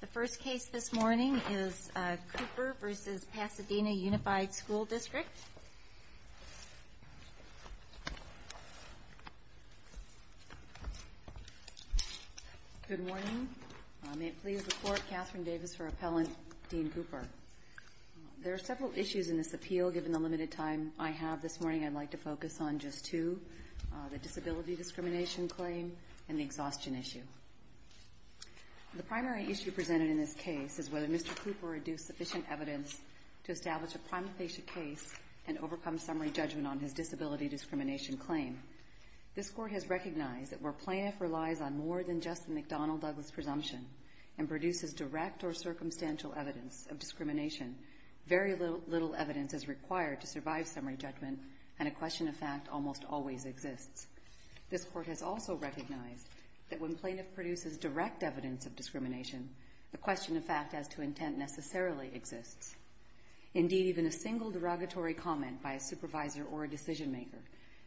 The first case this morning is Cooper v. Pasadena Unified School District. Good morning. May it please the Court, Catherine Davis for Appellant, Dean Cooper. There are several issues in this appeal given the limited time I have this morning. I'd like to focus on just two, the disability discrimination claim and the exhaustion issue. The primary issue presented in this case is whether Mr. Cooper would do sufficient evidence to establish a prima facie case and overcome summary judgment on his disability discrimination claim. This Court has recognized that where plaintiff relies on more than just the McDonnell-Douglas presumption and produces direct or circumstantial evidence of discrimination, very little evidence is required to survive summary judgment and a question of fact almost always exists. This Court has also recognized that when plaintiff produces direct evidence of discrimination, the question of fact as to intent necessarily exists. Indeed, even a single derogatory comment by a supervisor or a decision maker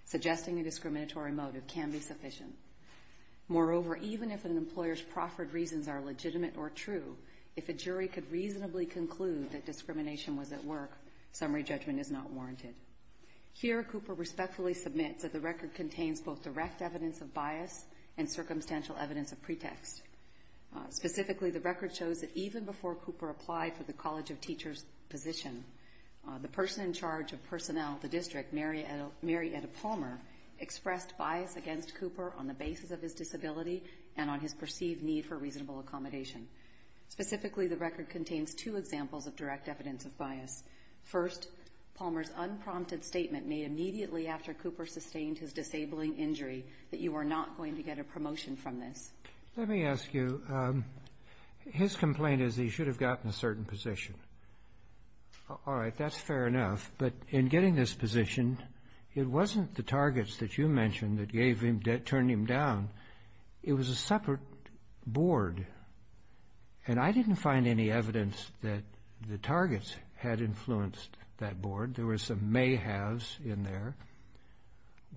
suggesting a discriminatory motive can be sufficient. Moreover, even if an employer's proffered reasons are legitimate or true, if a jury could reasonably conclude that discrimination was at work, summary judgment is not warranted. Here, Cooper respectfully submits that the record contains both direct evidence of bias and circumstantial evidence of pretext. Specifically, the record shows that even before Cooper applied for the College of Teachers position, the person in charge of personnel at the district, Mary Etta Palmer, expressed bias against Cooper on the basis of his disability and on his perceived need for reasonable accommodation. Specifically, the record contains two examples of direct evidence of bias. First, Palmer's unprompted statement made immediately after Cooper sustained his disabling injury that you are not going to get a promotion from this. Let me ask you, his complaint is that he should have gotten a certain position. All right, that's fair enough, but in getting this position, it wasn't the targets that you mentioned that turned him down. It was a separate board, and I didn't find any evidence that the targets had influenced that board. There were some may-haves in there.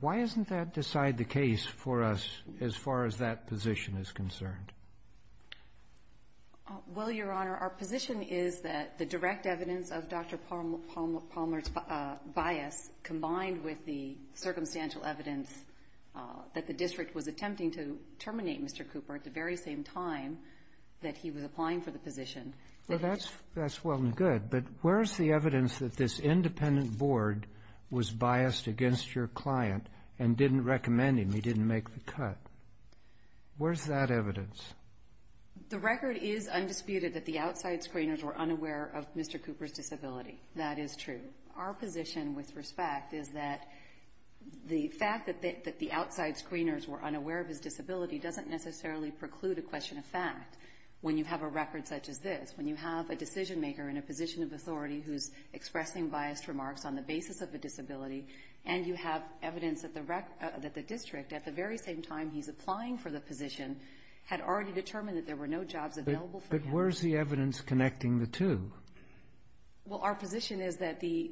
Why doesn't that decide the case for us as far as that position is concerned? Well, Your Honor, our position is that the direct evidence of Dr. Palmer's bias combined with the circumstantial evidence that the district was attempting to terminate Mr. Cooper at the very same time that he was applying for the position. Well, that's well and good, but where is the evidence that this independent board was biased against your client and didn't recommend him, he didn't make the cut? Where is that evidence? The record is undisputed that the outside screeners were unaware of Mr. Cooper's disability. That is true. Our position, with respect, is that the fact that the outside screeners were unaware of his disability doesn't necessarily preclude a question of fact when you have a record such as this, when you have a decision-maker in a position of authority who is expressing biased remarks on the basis of a disability, and you have evidence that the district, at the very same time he's applying for the position, had already determined that there were no jobs available for him. But where is the evidence connecting the two? Well, our position is that the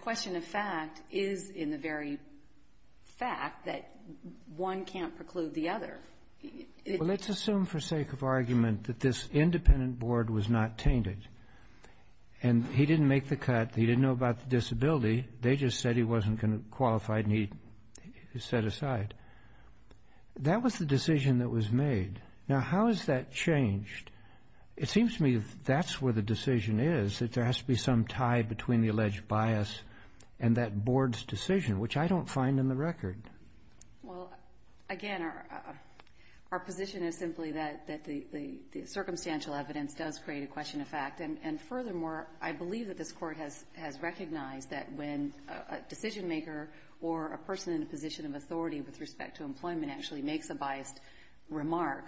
question of fact is in the very fact that one can't preclude the other. Well, let's assume for sake of argument that this independent board was not tainted and he didn't make the cut, he didn't know about the disability, they just said he wasn't qualified and he set aside. That was the decision that was made. Now, how has that changed? It seems to me that that's where the decision is, that there has to be some tie between the alleged bias and that board's decision, which I don't find in the record. Well, again, our position is simply that the circumstantial evidence does create a question of fact. And furthermore, I believe that this Court has recognized that when a decision-maker or a person in a position of authority with respect to employment actually makes a biased remark,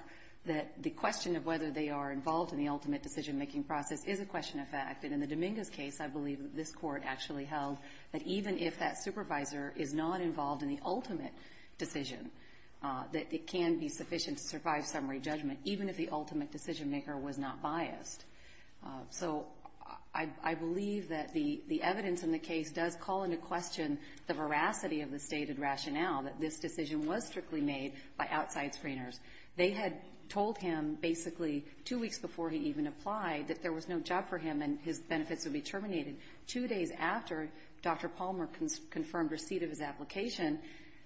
that the question of whether they are involved in the ultimate decision-making process is a question of fact. And in the Dominguez case, I believe that this Court actually held that even if that supervisor is not involved in the ultimate decision, that it can be sufficient to survive summary judgment, even if the ultimate decision-maker was not biased. So I believe that the evidence in the case does call into question the veracity of the stated rationale that this decision was strictly made by outside screeners. They had told him basically two weeks before he even applied that there was no job for him and his benefits would be terminated. Two days after Dr. Palmer confirmed receipt of his application,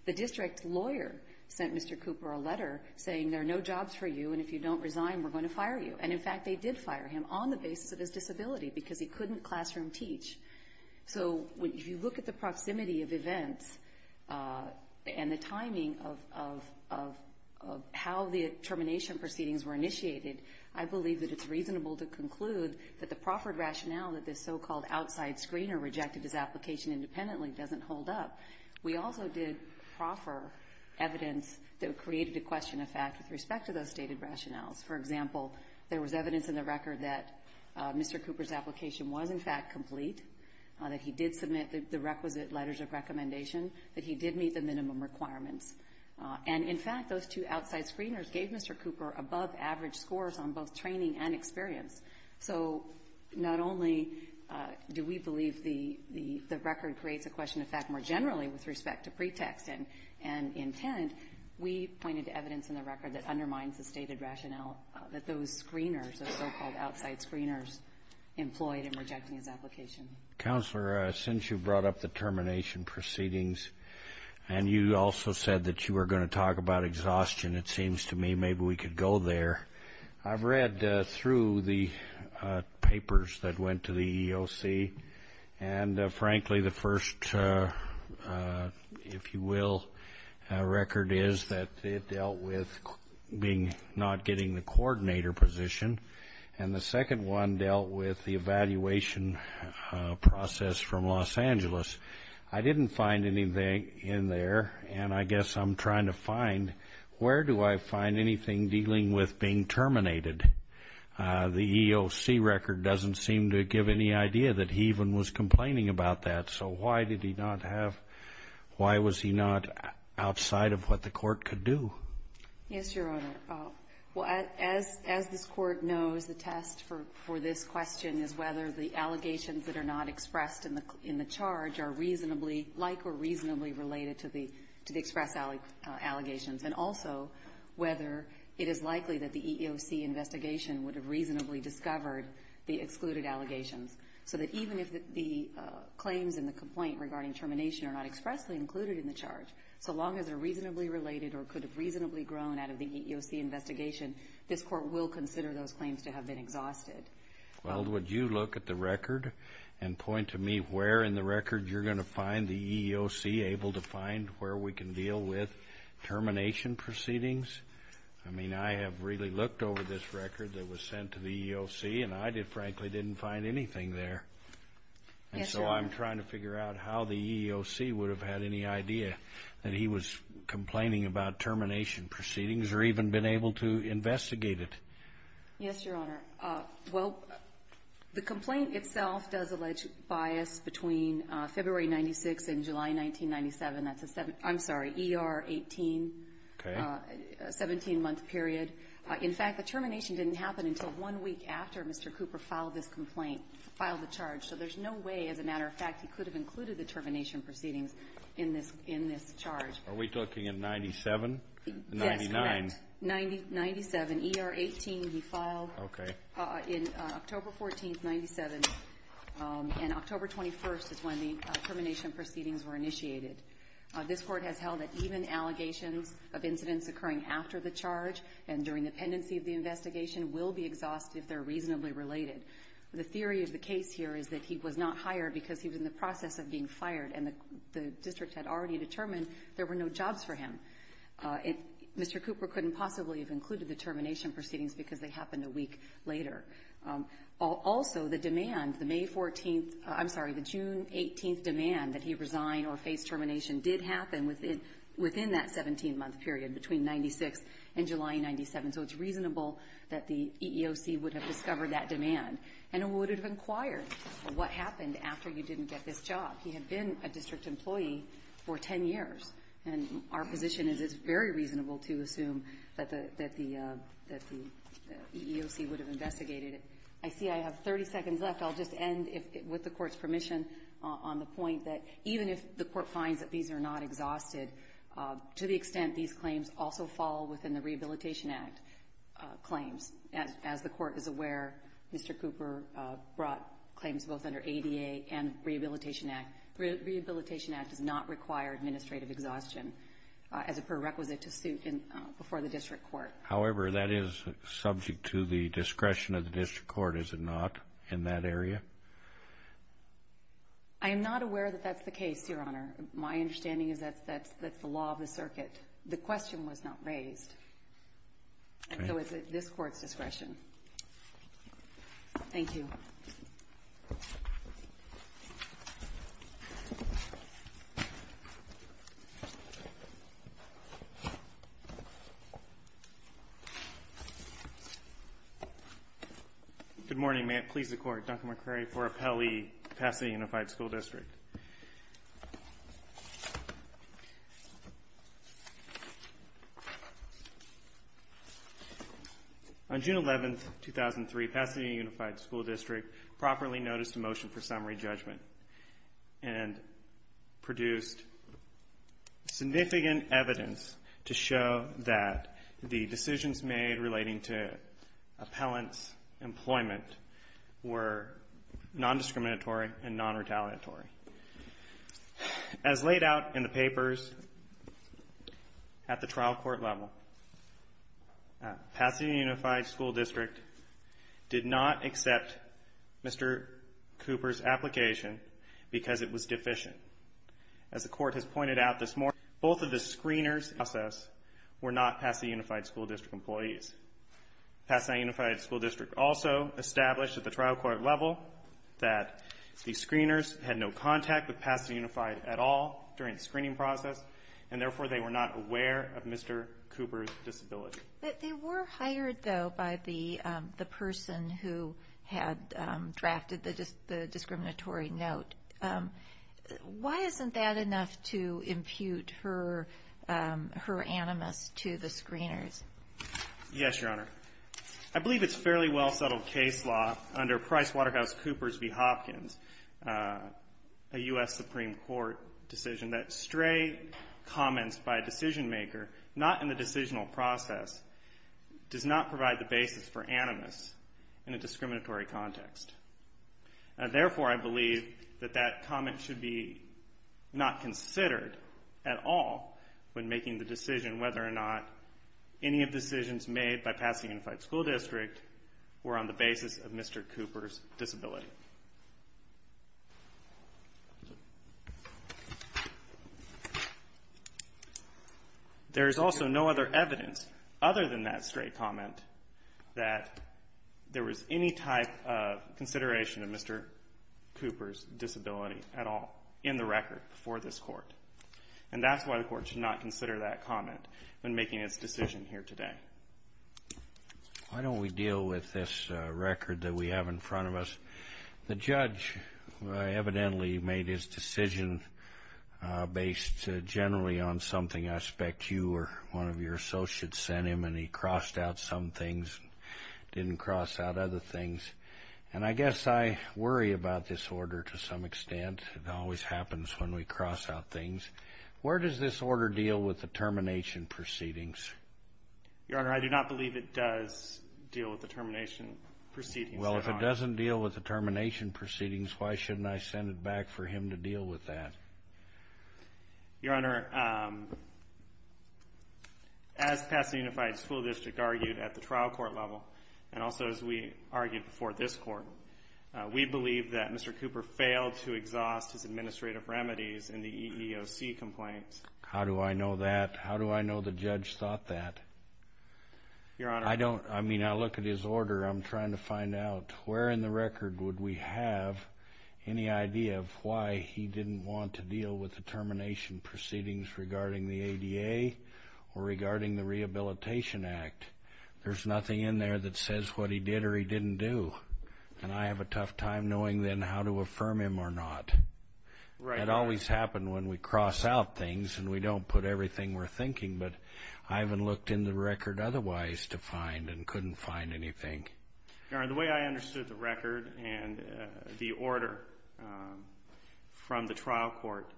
the district lawyer sent Mr. Cooper a letter saying there are no jobs for you, and if you don't resign, we're going to fire you. And, in fact, they did fire him on the basis of his disability because he couldn't classroom teach. So if you look at the proximity of events and the timing of how the termination proceedings were initiated, I believe that it's reasonable to conclude that the proffered rationale that this so-called outside screener rejected his application independently doesn't hold up. We also did proffer evidence that created a question of fact with respect to those stated rationales. For example, there was evidence in the record that Mr. Cooper's application was, in fact, complete, that he did submit the requisite letters of recommendation, that he did meet the minimum requirements. And, in fact, those two outside screeners gave Mr. Cooper above-average scores on both training and experience. So not only do we believe the record creates a question of fact more generally with respect to pretext and intent, we pointed to evidence in the record that undermines the stated rationale that those screeners, those so-called outside screeners, employed in rejecting his application. Counselor, since you brought up the termination proceedings and you also said that you were going to talk about exhaustion, it seems to me maybe we could go there. I've read through the papers that went to the EEOC. And, frankly, the first, if you will, record is that it dealt with not getting the coordinator position. And the second one dealt with the evaluation process from Los Angeles. I didn't find anything in there. And I guess I'm trying to find where do I find anything dealing with being terminated. The EEOC record doesn't seem to give any idea that he even was complaining about that. So why did he not have why was he not outside of what the court could do? Yes, Your Honor. As this Court knows, the test for this question is whether the allegations that are not expressed in the charge are like or reasonably related to the express allegations, and also whether it is likely that the EEOC investigation would have reasonably discovered the excluded allegations. So that even if the claims in the complaint regarding termination are not expressly included in the charge, so long as they're reasonably related or could have reasonably grown out of the EEOC investigation, this Court will consider those claims to have been exhausted. Well, would you look at the record and point to me where in the record you're going to find the EEOC able to find where we can deal with termination proceedings? I mean, I have really looked over this record that was sent to the EEOC, and I frankly didn't find anything there. Yes, Your Honor. And so I'm trying to figure out how the EEOC would have had any idea that he was complaining about termination proceedings or even been able to investigate it. Yes, Your Honor. Well, the complaint itself does allege bias between February 1996 and July 1997. That's a 17-month period. In fact, the termination didn't happen until one week after Mr. Cooper filed this complaint, filed the charge. So there's no way, as a matter of fact, he could have included the termination proceedings in this charge. Are we talking in 1997? Yes, correct. In 1997, ER 18 he filed. Okay. In October 14, 1997, and October 21 is when the termination proceedings were initiated. This Court has held that even allegations of incidents occurring after the charge and during the pendency of the investigation will be exhausted if they're reasonably related. The theory of the case here is that he was not hired because he was in the process of being fired, and the district had already determined there were no jobs for him. Mr. Cooper couldn't possibly have included the termination proceedings because they happened a week later. Also, the demand, the May 14th, I'm sorry, the June 18th demand that he resign or face termination did happen within that 17-month period between 1996 and July 1997, so it's reasonable that the EEOC would have discovered that demand and would have inquired what happened after you didn't get this job. He had been a district employee for 10 years, and our position is it's very reasonable to assume that the EEOC would have investigated it. I see I have 30 seconds left. I'll just end with the Court's permission on the point that even if the Court finds that these are not exhausted, to the extent these claims also fall within the Rehabilitation Act claims. As the Court is aware, Mr. Cooper brought claims both under ADA and Rehabilitation Act. The Rehabilitation Act does not require administrative exhaustion as a prerequisite to suit before the district court. However, that is subject to the discretion of the district court, is it not, in that area? I am not aware that that's the case, Your Honor. My understanding is that's the law of the circuit. The question was not raised, and so it's at this Court's discretion. Thank you. Good morning. May it please the Court, Dr. McCrary for Appellee, Pasadena Unified School District. On June 11, 2003, Pasadena Unified School District properly noticed a motion for summary judgment and produced significant evidence to show that the decisions made relating to As laid out in the papers at the trial court level, Pasadena Unified School District did not accept Mr. Cooper's application because it was deficient. As the Court has pointed out this morning, both of the screeners in the process were not Pasadena Unified School District employees. Pasadena Unified School District also established at the trial court level that the screeners had no contact with Pasadena Unified at all during the screening process, and therefore they were not aware of Mr. Cooper's disability. But they were hired, though, by the person who had drafted the discriminatory note. Why isn't that enough to impute her animus to the screeners? Yes, Your Honor. I believe it's fairly well-settled case law under Price Waterhouse Cooper's v. Hopkins, a U.S. Supreme Court decision, that stray comments by a decision-maker not in the decisional process does not provide the basis for animus in a discriminatory context. Therefore, I believe that that comment should be not considered at all when making the decision whether or not any of the decisions made by Pasadena Unified School District were on the basis of Mr. Cooper's disability. There is also no other evidence other than that stray comment that there was any type of consideration of Mr. Cooper's disability at all in the record before this Court. And that's why the Court should not consider that comment when making its decision here today. Why don't we deal with this record that we have in front of us? The judge evidently made his decision based generally on something I expect you or one of your associates sent him, and he crossed out some things and didn't cross out other things. And I guess I worry about this order to some extent. It always happens when we cross out things. Where does this order deal with the termination proceedings? Your Honor, I do not believe it does deal with the termination proceedings. Well, if it doesn't deal with the termination proceedings, why shouldn't I send it back for him to deal with that? Your Honor, as Pasadena Unified School District argued at the trial court level, and also as we argued before this Court, we believe that Mr. Cooper failed to exhaust his administrative remedies in the EEOC complaints. How do I know that? How do I know the judge thought that? Your Honor, I don't. I mean, I look at his order. I'm trying to find out where in the record would we have any idea of why he didn't want to deal with the termination proceedings regarding the ADA or regarding the Rehabilitation Act. There's nothing in there that says what he did or he didn't do. And I have a tough time knowing then how to affirm him or not. It always happened when we cross out things and we don't put everything we're thinking. But I haven't looked in the record otherwise to find and couldn't find anything. Your Honor, the way I understood the record and the order from the trial court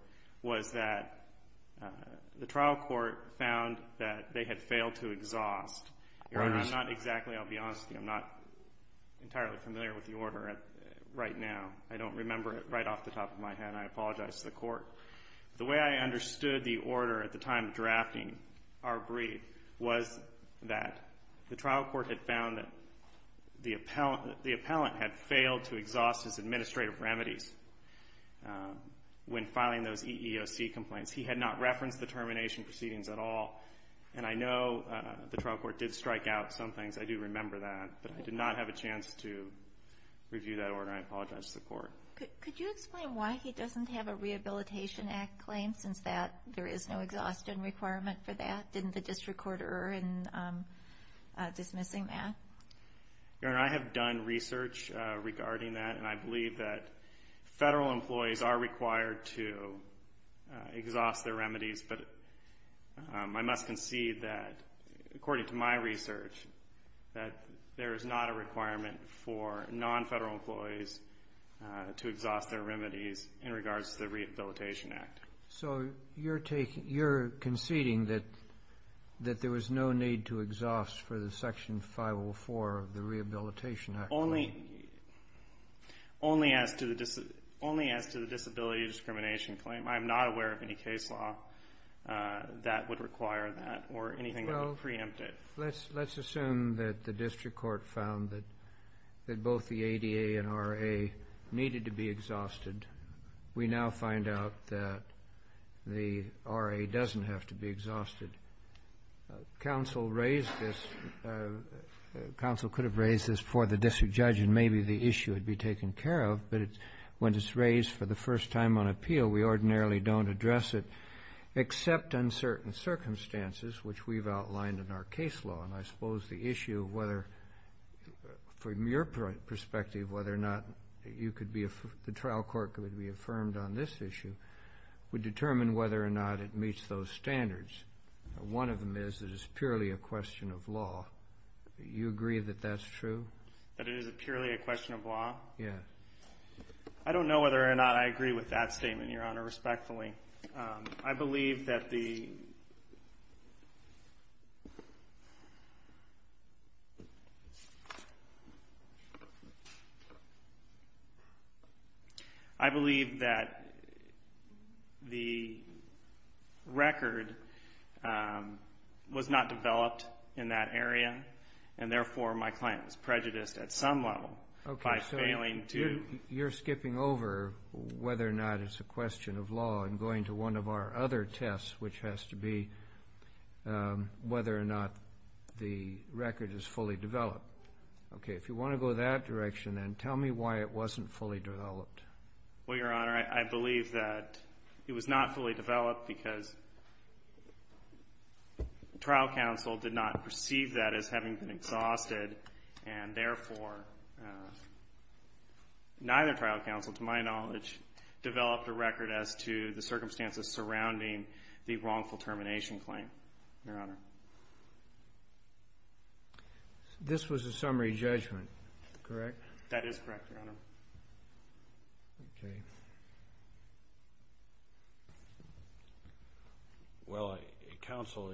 was that the trial court found that they had failed to exhaust. Your Honor, I'm not exactly, I'll be honest with you, I'm not entirely familiar with the order right now. I don't remember it right off the top of my head and I apologize to the court. The way I understood the order at the time of drafting our brief was that the trial court had found that the appellant had failed to exhaust his administrative remedies when filing those EEOC complaints. He had not referenced the termination proceedings at all and I know the trial court did strike out some things. I do remember that, but I did not have a chance to review that order and I apologize to the court. Could you explain why he doesn't have a Rehabilitation Act claim since there is no exhaustion requirement for that? Didn't the district court err in dismissing that? Your Honor, I have done research regarding that and I believe that federal employees are required to exhaust their remedies. But I must concede that, according to my research, that there is not a requirement for non-federal employees to exhaust their remedies in regards to the Rehabilitation Act. So you're conceding that there was no need to exhaust for the Section 504 of the Rehabilitation Act? Only as to the disability discrimination claim. I'm not aware of any case law that would require that or anything that would preempt it. Let's assume that the district court found that both the ADA and RA needed to be exhausted. We now find out that the RA doesn't have to be exhausted. Counsel raised this. Counsel could have raised this before the district judge and maybe the issue would be taken care of. But when it's raised for the first time on appeal, we ordinarily don't address it except on certain circumstances, which we've outlined in our case law. And I suppose the issue of whether, from your perspective, whether or not the trial court could be affirmed on this issue would determine whether or not it meets those standards. One of them is that it's purely a question of law. You agree that that's true? That it is purely a question of law? Yeah. I don't know whether or not I agree with that statement, Your Honor, respectfully. I believe that the record was not developed in that area. And therefore, my client was prejudiced at some level by failing to... You're skipping over whether or not it's a question of law and going to one of our other tests, which has to be whether or not the record is fully developed. Okay. If you want to go that direction, then tell me why it wasn't fully developed. Well, Your Honor, I believe that it was not fully developed because the trial counsel did not perceive that as having been fully developed. It was having been exhausted, and therefore neither trial counsel, to my knowledge, developed a record as to the circumstances surrounding the wrongful termination claim, Your Honor. This was a summary judgment, correct? That is correct, Your Honor. Okay. Well, counsel,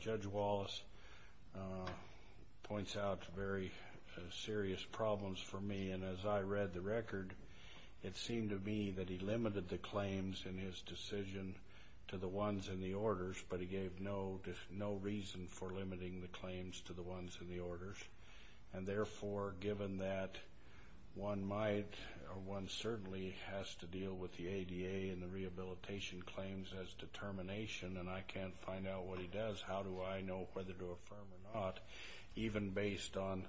Judge Wallace points out very serious problems for me. And as I read the record, it seemed to me that he limited the claims in his decision to the ones in the orders, but he gave no reason for limiting the claims to the ones in the orders. And therefore, given that one certainly has to deal with the ADA and the rehabilitation claims as determination, and I can't find out what he does, how do I know whether to affirm or not, even based on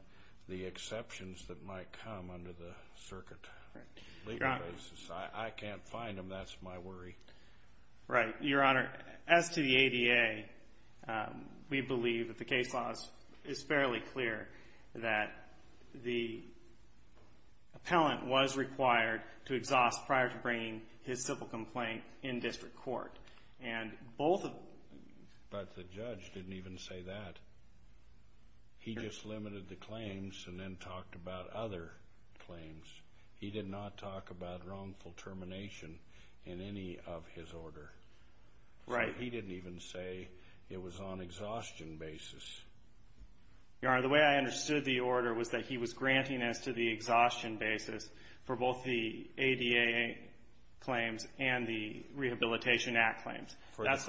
the exceptions that might come under the circuit legal basis? I can't find them. That's my worry. Right. Your Honor, as to the ADA, we believe that the case law is fairly clear that the appellant was required to exhaust prior to bringing his civil complaint in district court. But the judge didn't even say that. He just limited the claims and then talked about other claims. He did not talk about wrongful termination in any of his order. Right. He didn't even say it was on exhaustion basis. Your Honor, the way I understood the order was that he was granting us to the exhaustion basis for both the ADA claims and the Rehabilitation Act claims. Right.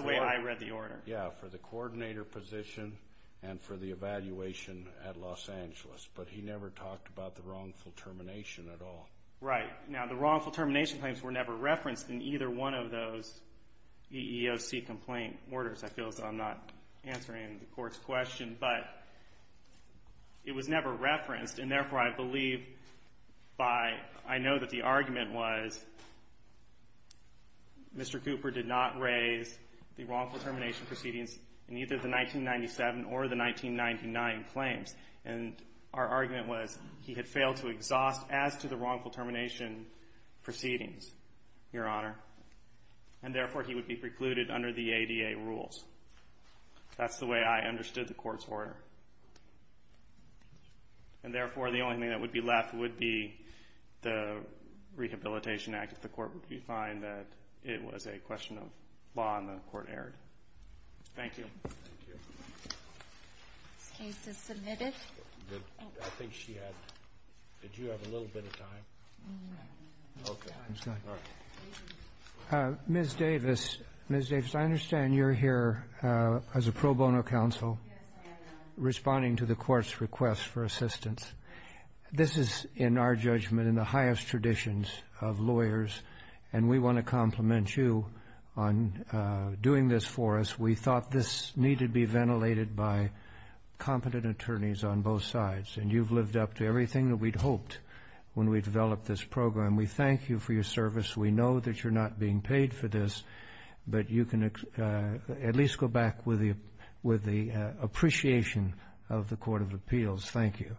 Now, the wrongful termination claims were never referenced in either one of those EEOC complaint orders. I feel as though I'm not answering the Court's question, but it was never referenced, and therefore, I believe by — I know that the argument was Mr. Cooper did not raise the wrongful termination proceedings in either the 1997 or the 1999 claims. And our argument was he had failed to exhaust as to the wrongful termination proceedings, Your Honor. And therefore, he would be precluded under the ADA rules. That's the way I understood the Court's order. And therefore, the only thing that would be left would be the Rehabilitation Act if the Court would find that it was a question of law and the Court erred. Thank you. Ms. Davis, I understand you're here as a pro bono counsel responding to the Court's request for assistance. This is, in our judgment, in the highest traditions of lawyers, and we want to compliment you on doing this for us. We thought this needed to be ventilated by competent attorneys on both sides. And you've lived up to everything that we'd hoped when we developed this program. We thank you for your service. We know that you're not being paid for this, but you can at least go back with the appreciation of the Court of Appeals. Thank you.